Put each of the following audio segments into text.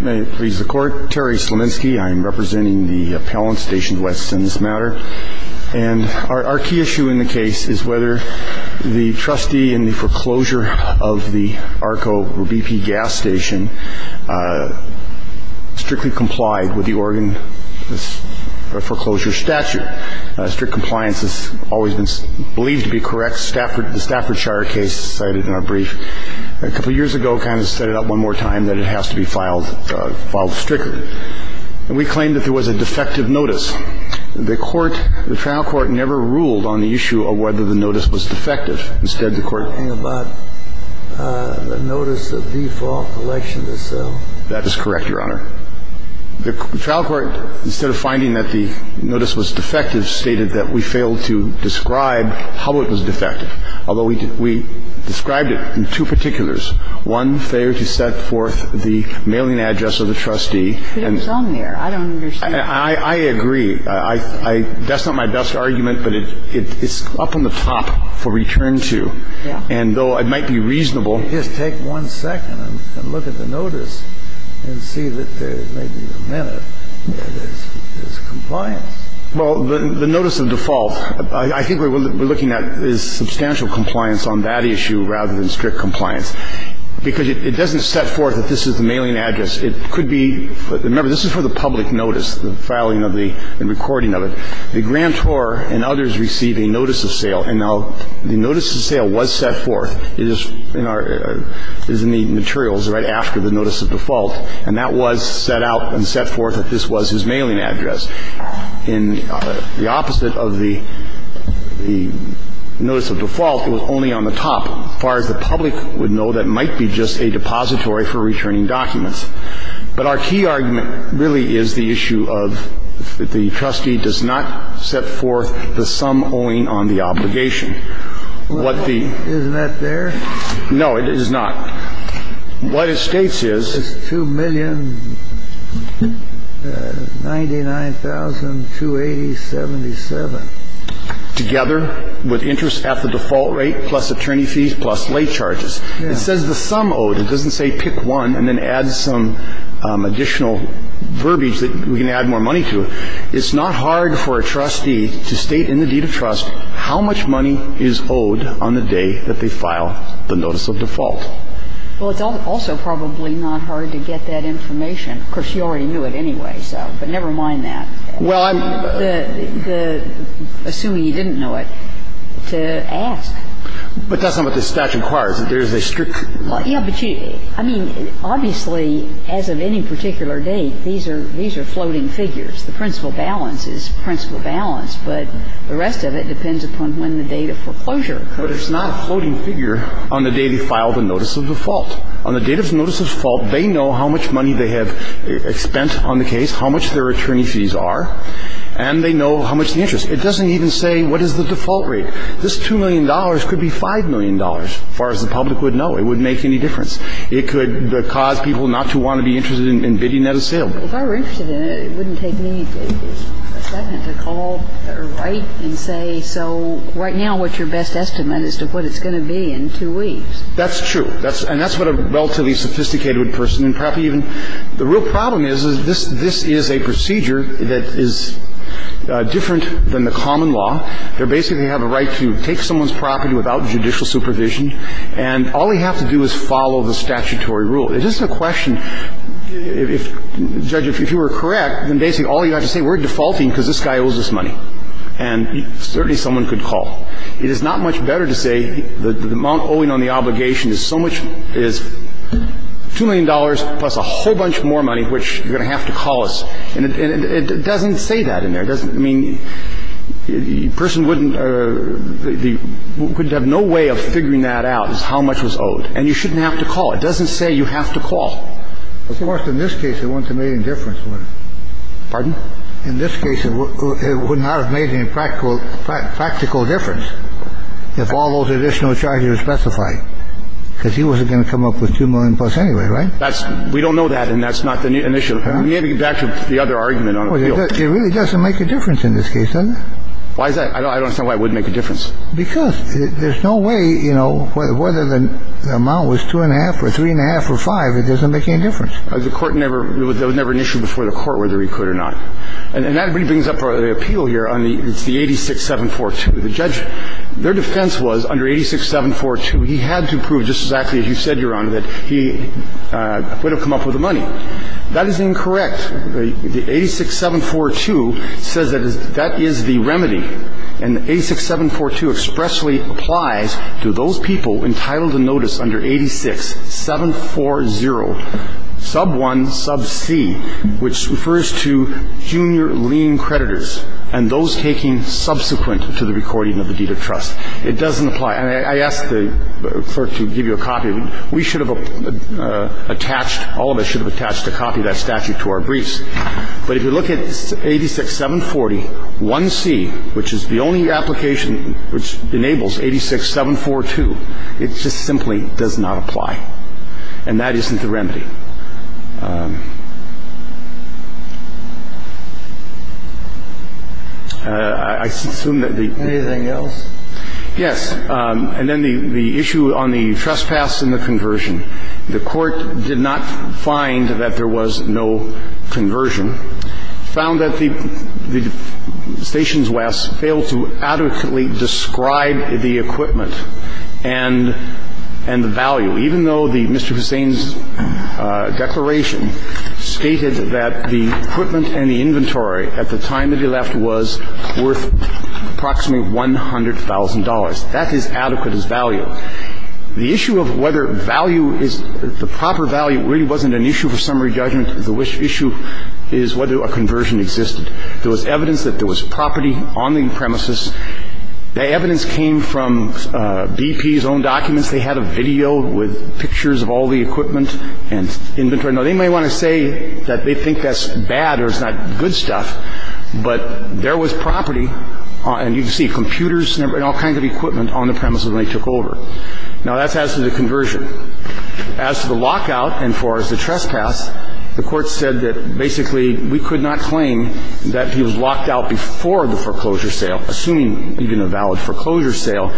May it please the Court, Terry Slominski. I'm representing the appellant stations West in this matter. And our key issue in the case is whether the trustee in the foreclosure of the ARCO BP gas station strictly complied with the Oregon foreclosure statute. Strict compliance has always been believed to be correct. In fact, the Stafford Shire case cited in our brief a couple years ago kind of set it up one more time that it has to be filed strictly. And we claimed that there was a defective notice. The trial court never ruled on the issue of whether the notice was defective. Instead, the court… You're talking about the notice of default, election to sell? That is correct, Your Honor. The trial court, instead of finding that the notice was defective, stated that we failed to describe how it was defective. Although we described it in two particulars. One, failure to set forth the mailing address of the trustee. But it was on there. I don't understand. I agree. That's not my best argument, but it's up on the top for return to. Yeah. And though it might be reasonable… Well, let me just take one second and look at the notice and see that there may be a minute where there's compliance. Well, the notice of default, I think what we're looking at is substantial compliance on that issue rather than strict compliance. Because it doesn't set forth that this is the mailing address. It could be – remember, this is for the public notice, the filing of the – the recording of it. The grantor and others receive a notice of sale. And now the notice of sale was set forth. It is in our – it is in the materials right after the notice of default. And that was set out and set forth that this was his mailing address. In the opposite of the notice of default, it was only on the top. As far as the public would know, that might be just a depository for returning documents. But our key argument really is the issue of the trustee does not set forth the sum owing on the obligation. And that's a very simple question. It's not hard for a trustee to state in the deed of trust what the – Isn't that there? No, it is not. What it states is – It's 2,099,280.77. Together with interest at the default rate plus attorney fees plus late charges. Yes. It says the sum owed. It doesn't say pick one and then add some additional verbiage that we can add more money to. It's not hard for a trustee to state in the deed of trust how much money is owed on the day that they file the notice of default. Well, it's also probably not hard to get that information. Of course, you already knew it anyway, so. But never mind that. Well, I'm – Assuming you didn't know it, to ask. But that's not what the statute requires. There's a strict – Well, yeah, but you – I mean, obviously, as of any particular date, these are – these are floating figures. The principal balance is principal balance, but the rest of it depends upon when the date of foreclosure occurs. But it's not a floating figure on the day they file the notice of default. On the date of the notice of default, they know how much money they have spent on the case, how much their attorney fees are, and they know how much the interest. It doesn't even say what is the default rate. This $2 million could be $5 million, as far as the public would know. It wouldn't make any difference. It could cause people not to want to be interested in bidding at a sale. If I were interested in it, it wouldn't take me a second to call or write and say, so right now, what's your best estimate as to what it's going to be in two weeks? That's true. And that's what a relatively sophisticated person and probably even – the real problem is, is this is a procedure that is different than the common law. They basically have a right to take someone's property without judicial supervision, and all they have to do is follow the statutory rule. It's just a question. If, Judge, if you were correct, then basically all you have to say, we're defaulting because this guy owes us money. And certainly someone could call. It is not much better to say the amount owing on the obligation is so much – is $2 million plus a whole bunch more money, which you're going to have to call us. And it doesn't say that in there. It doesn't – I mean, a person wouldn't – wouldn't have no way of figuring that out, is how much was owed. And you shouldn't have to call. It doesn't say you have to call. Of course, in this case, it wouldn't have made any difference, would it? Pardon? In this case, it would not have made any practical difference if all those additional charges were specified, because he wasn't going to come up with $2 million plus anyway, right? That's – we don't know that, and that's not the initial – maybe back to the other argument on appeal. It really doesn't make a difference in this case, does it? Why is that? I don't understand why it wouldn't make a difference. Because there's no way, you know, whether the amount was 2 1⁄2 or 3 1⁄2 or 5, it doesn't make any difference. The Court never – there was never an issue before the Court whether he could or not. And that really brings up the appeal here on the – it's the 86-742. The judge – their defense was under 86-742, he had to prove just exactly as you said, Your Honor, that he would have come up with the money. That is incorrect. The 86-742 says that is – that is the remedy. And the 86-742 expressly applies to those people entitled to notice under 86-740, sub 1, sub c, which refers to junior lien creditors and those taking subsequent to the recording of the deed of trust. It doesn't apply. And I asked the clerk to give you a copy. We should have attached – all of us should have attached a copy of that statute to our briefs. But if you look at 86-740, 1c, which is the only application which enables 86-742, it just simply does not apply. And that isn't the remedy. I assume that the – Anything else? Yes. And then the issue on the trespass and the conversion. The Court did not find that there was no conversion. It found that the Stations West failed to adequately describe the equipment and the value, even though Mr. Hussain's declaration stated that the equipment and the inventory at the time that he left was worth approximately $100,000. That is adequate as value. The issue of whether value is – the proper value really wasn't an issue for summary judgment. The issue is whether a conversion existed. There was evidence that there was property on the premises. That evidence came from BP's own documents. They had a video with pictures of all the equipment and inventory. Now, they might want to say that they think that's bad or it's not good stuff, but there was property, and you can see computers and all kinds of equipment on the premises when they took over. Now, that's as to the conversion. As to the lockout and as far as the trespass, the Court said that basically we could not claim that he was locked out before the foreclosure sale, assuming even a valid foreclosure sale,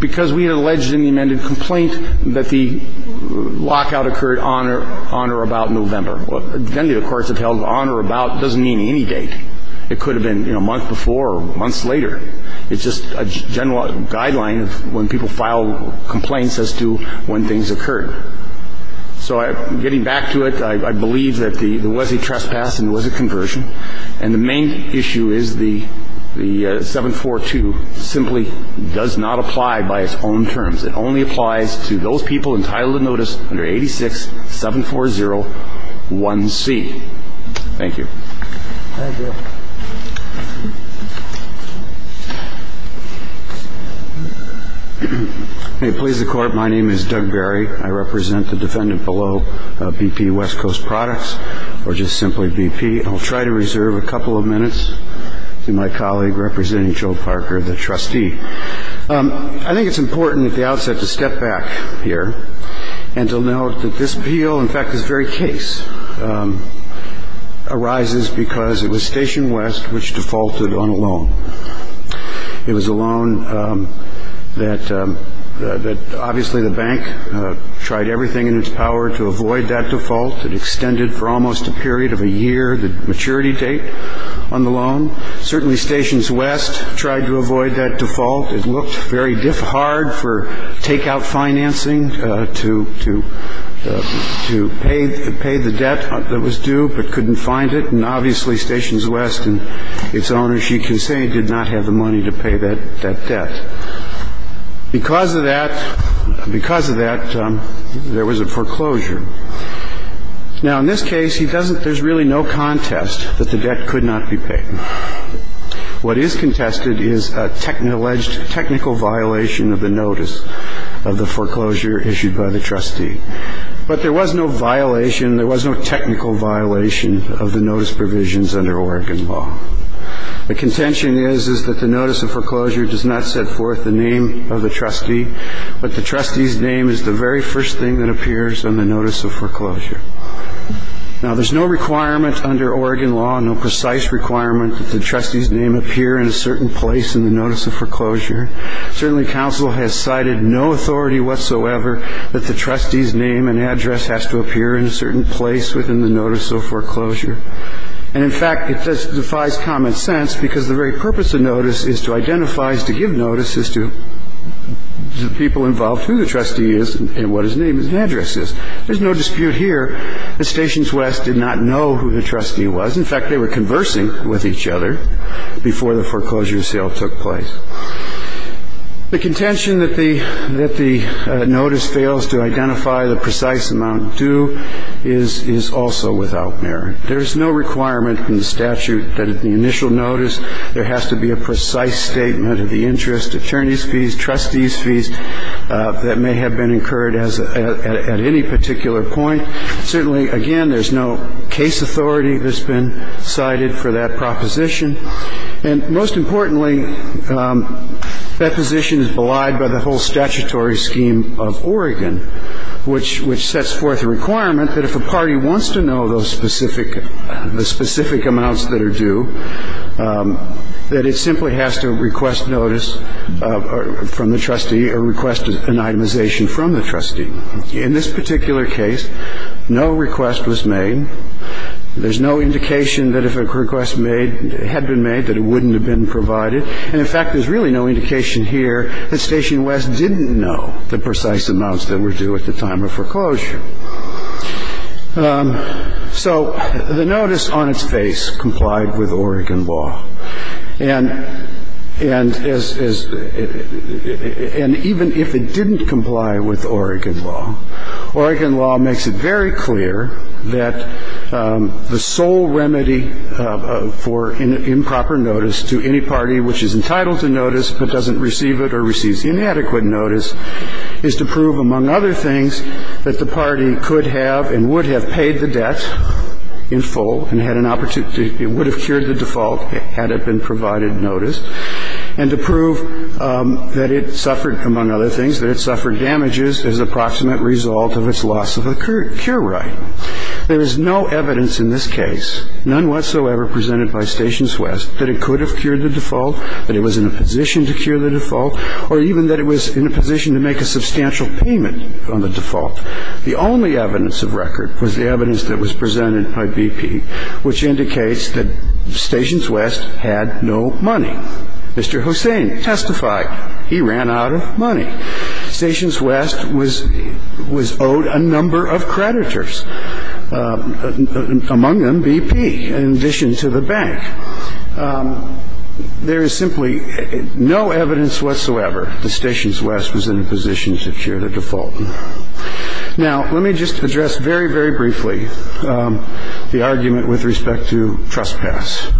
because we had alleged in the amended complaint that the lockout occurred on or about November. Well, generally, the courts have held on or about doesn't mean any date. It could have been a month before or months later. It's just a general guideline when people file complaints as to when things occurred. So getting back to it, I believe that there was a trespass and there was a conversion, and the main issue is the 742 simply does not apply by its own terms. It only applies to those people entitled to notice under 86-740-1C. Thank you. Thank you. May it please the Court, my name is Doug Barry. I represent the defendant below BP West Coast Products, or just simply BP. And I'll try to reserve a couple of minutes to my colleague representing Joe Parker, the trustee. I think it's important at the outset to step back here and to note that this appeal, in fact, this very case, arises because it was Station West which defaulted on a loan. It was a loan that obviously the bank tried everything in its power to avoid that default. It extended for almost a period of a year the maturity date on the loan. Certainly, Stations West tried to avoid that default. It looked very hard for takeout financing to pay the debt that was due but couldn't find it. And obviously, Stations West and its owners, you can say, did not have the money to pay that debt. Because of that, because of that, there was a foreclosure. Now, in this case, there's really no contest that the debt could not be paid. What is contested is an alleged technical violation of the notice of the foreclosure issued by the trustee. But there was no violation, there was no technical violation of the notice provisions under Oregon law. The contention is that the notice of foreclosure does not set forth the name of the trustee, but the trustee's name is the very first thing that appears on the notice of foreclosure. Now, there's no requirement under Oregon law, no precise requirement that the trustee's name appear in a certain place in the notice of foreclosure. Certainly, counsel has cited no authority whatsoever that the trustee's name and address has to appear in a certain place within the notice of foreclosure. And in fact, it defies common sense because the very purpose of notice is to identify, to give notice is to the people involved who the trustee is and what his name and address is. There's no dispute here that Stations West did not know who the trustee was. In fact, they were conversing with each other before the foreclosure sale took place. The contention that the notice fails to identify the precise amount due is also without merit. There is no requirement in the statute that at the initial notice, there has to be a precise statement of the interest, attorney's fees, trustee's fees that may have been incurred at any particular point. Certainly, again, there's no case authority that's been cited for that proposition. And most importantly, that position is belied by the whole statutory scheme of Oregon, which sets forth a requirement that if a party wants to know the specific amounts that are due, that it simply has to request notice from the trustee or request an itemization from the trustee. In this particular case, no request was made. There's no indication that if a request had been made, that it wouldn't have been provided. And in fact, there's really no indication here that Stations West didn't know the precise amounts that were due at the time of foreclosure. So the notice on its face complied with Oregon law. And even if it didn't comply with Oregon law, Oregon law makes it very clear that the sole remedy for improper notice to any party which is entitled to notice but doesn't receive it or receives inadequate notice is to prove, among other things, that the party could have and would have paid the debt in full and had an opportunity to be able to cure the default had it been provided notice, and to prove that it suffered, among other things, that it suffered damages as the proximate result of its loss of a cure right. There is no evidence in this case, none whatsoever presented by Stations West, that it could have cured the default, that it was in a position to cure the default, or even that it was in a position to make a substantial payment on the default. The only evidence of record was the evidence that was presented by BP, which indicates that Stations West had no money. Stations West was owed a number of creditors, among them BP, in addition to the bank. There is simply no evidence whatsoever that Stations West was in a position to cure the default. Now, let me just address very, very briefly the argument with respect to trespass.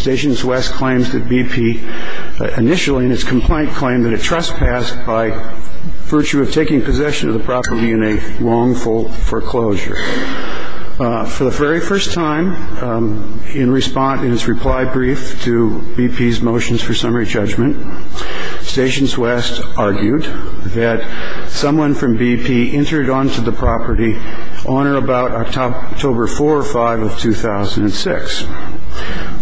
Stations West claims that BP initially, in its complaint, claimed that it trespassed by virtue of taking possession of the property in a wrongful foreclosure. For the very first time, in response, in its reply brief to BP's motions for summary judgment, Stations West argued that someone from BP entered onto the property on or about October 4 or 5 of 2006,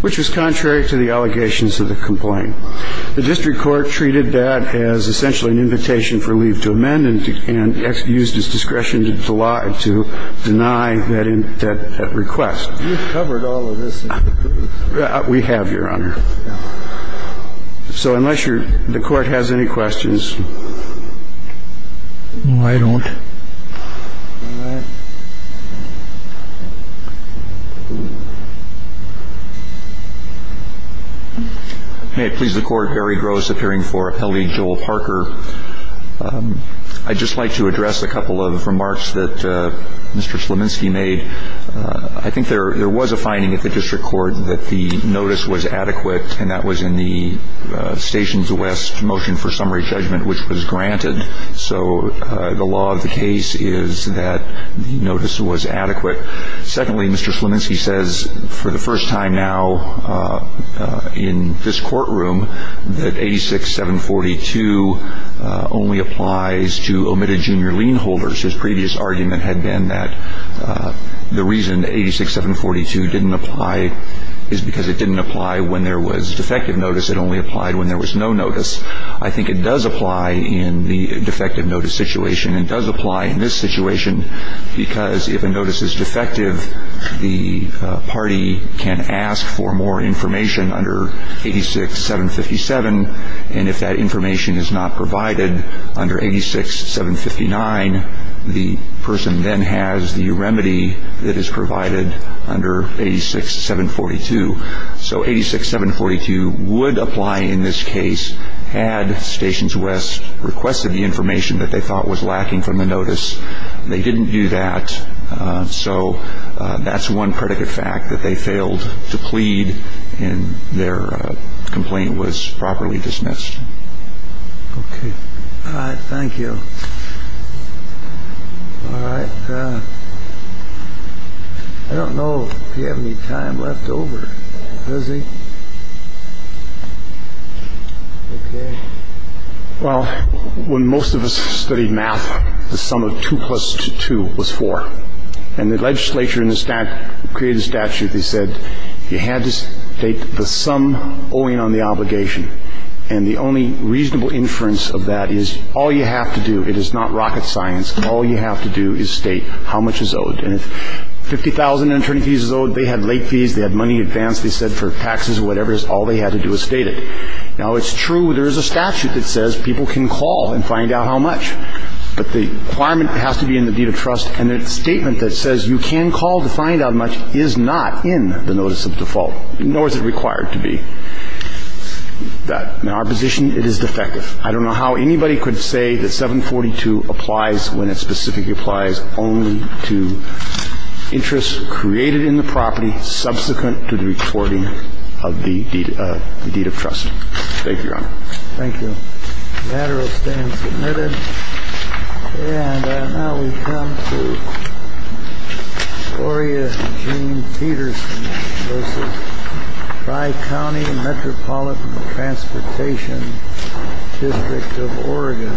which was contrary to the allegations of the complaint. The district court treated that as essentially an invitation for leave to amend and used its discretion to deny that request. You've covered all of this. We have, Your Honor. So unless the Court has any questions. No, I don't. All right. May it please the Court, Gary Gross, appearing for Appellee Joel Parker. I'd just like to address a couple of remarks that Mr. Sleminski made. I think there was a finding at the district court that the notice was adequate, and that was in the Stations West motion for summary judgment, which was granted. So the law of the case is that the notice was adequate. Secondly, Mr. Sleminski says, for the first time now in this courtroom, that 86-742 only applies to omitted junior lien holders. His previous argument had been that the reason 86-742 didn't apply is because it didn't apply when there was defective notice. It only applied when there was no notice. I think it does apply in the defective notice situation. It does apply in this situation because if a notice is defective, the party can ask for more information under 86-757, and if that information is not provided under 86-759, the person then has the remedy that is provided under 86-742. So 86-742 would apply in this case had Stations West requested the information that they thought was lacking from the notice. They didn't do that, so that's one predicate fact, that they failed to plead and their complaint was properly dismissed. Okay. All right. Thank you. All right. I don't know if you have any time left over, does he? Okay. Well, when most of us studied math, the sum of 2 plus 2 was 4, and the legislature created a statute that said you had to state the sum owing on the obligation, and the only reasonable inference of that is all you have to do, it is not rocket science, all you have to do is state how much is owed. And if 50,000 attorney fees is owed, they had late fees, they had money in advance, they said for taxes or whatever, all they had to do was state it. Now, it's true there is a statute that says people can call and find out how much, but the requirement has to be in the deed of trust, and the statement that says you can call to find out how much is not in the notice of default, nor is it required to be. In our position, it is defective. I don't know how anybody could say that 742 applies when it specifically applies only to interests created in the property subsequent to the reporting of the deed of trust. Thank you, Your Honor. Thank you. The matter will stand submitted. And now we come to Gloria Jean Peterson, Tri-County Metropolitan Transportation District of Oregon.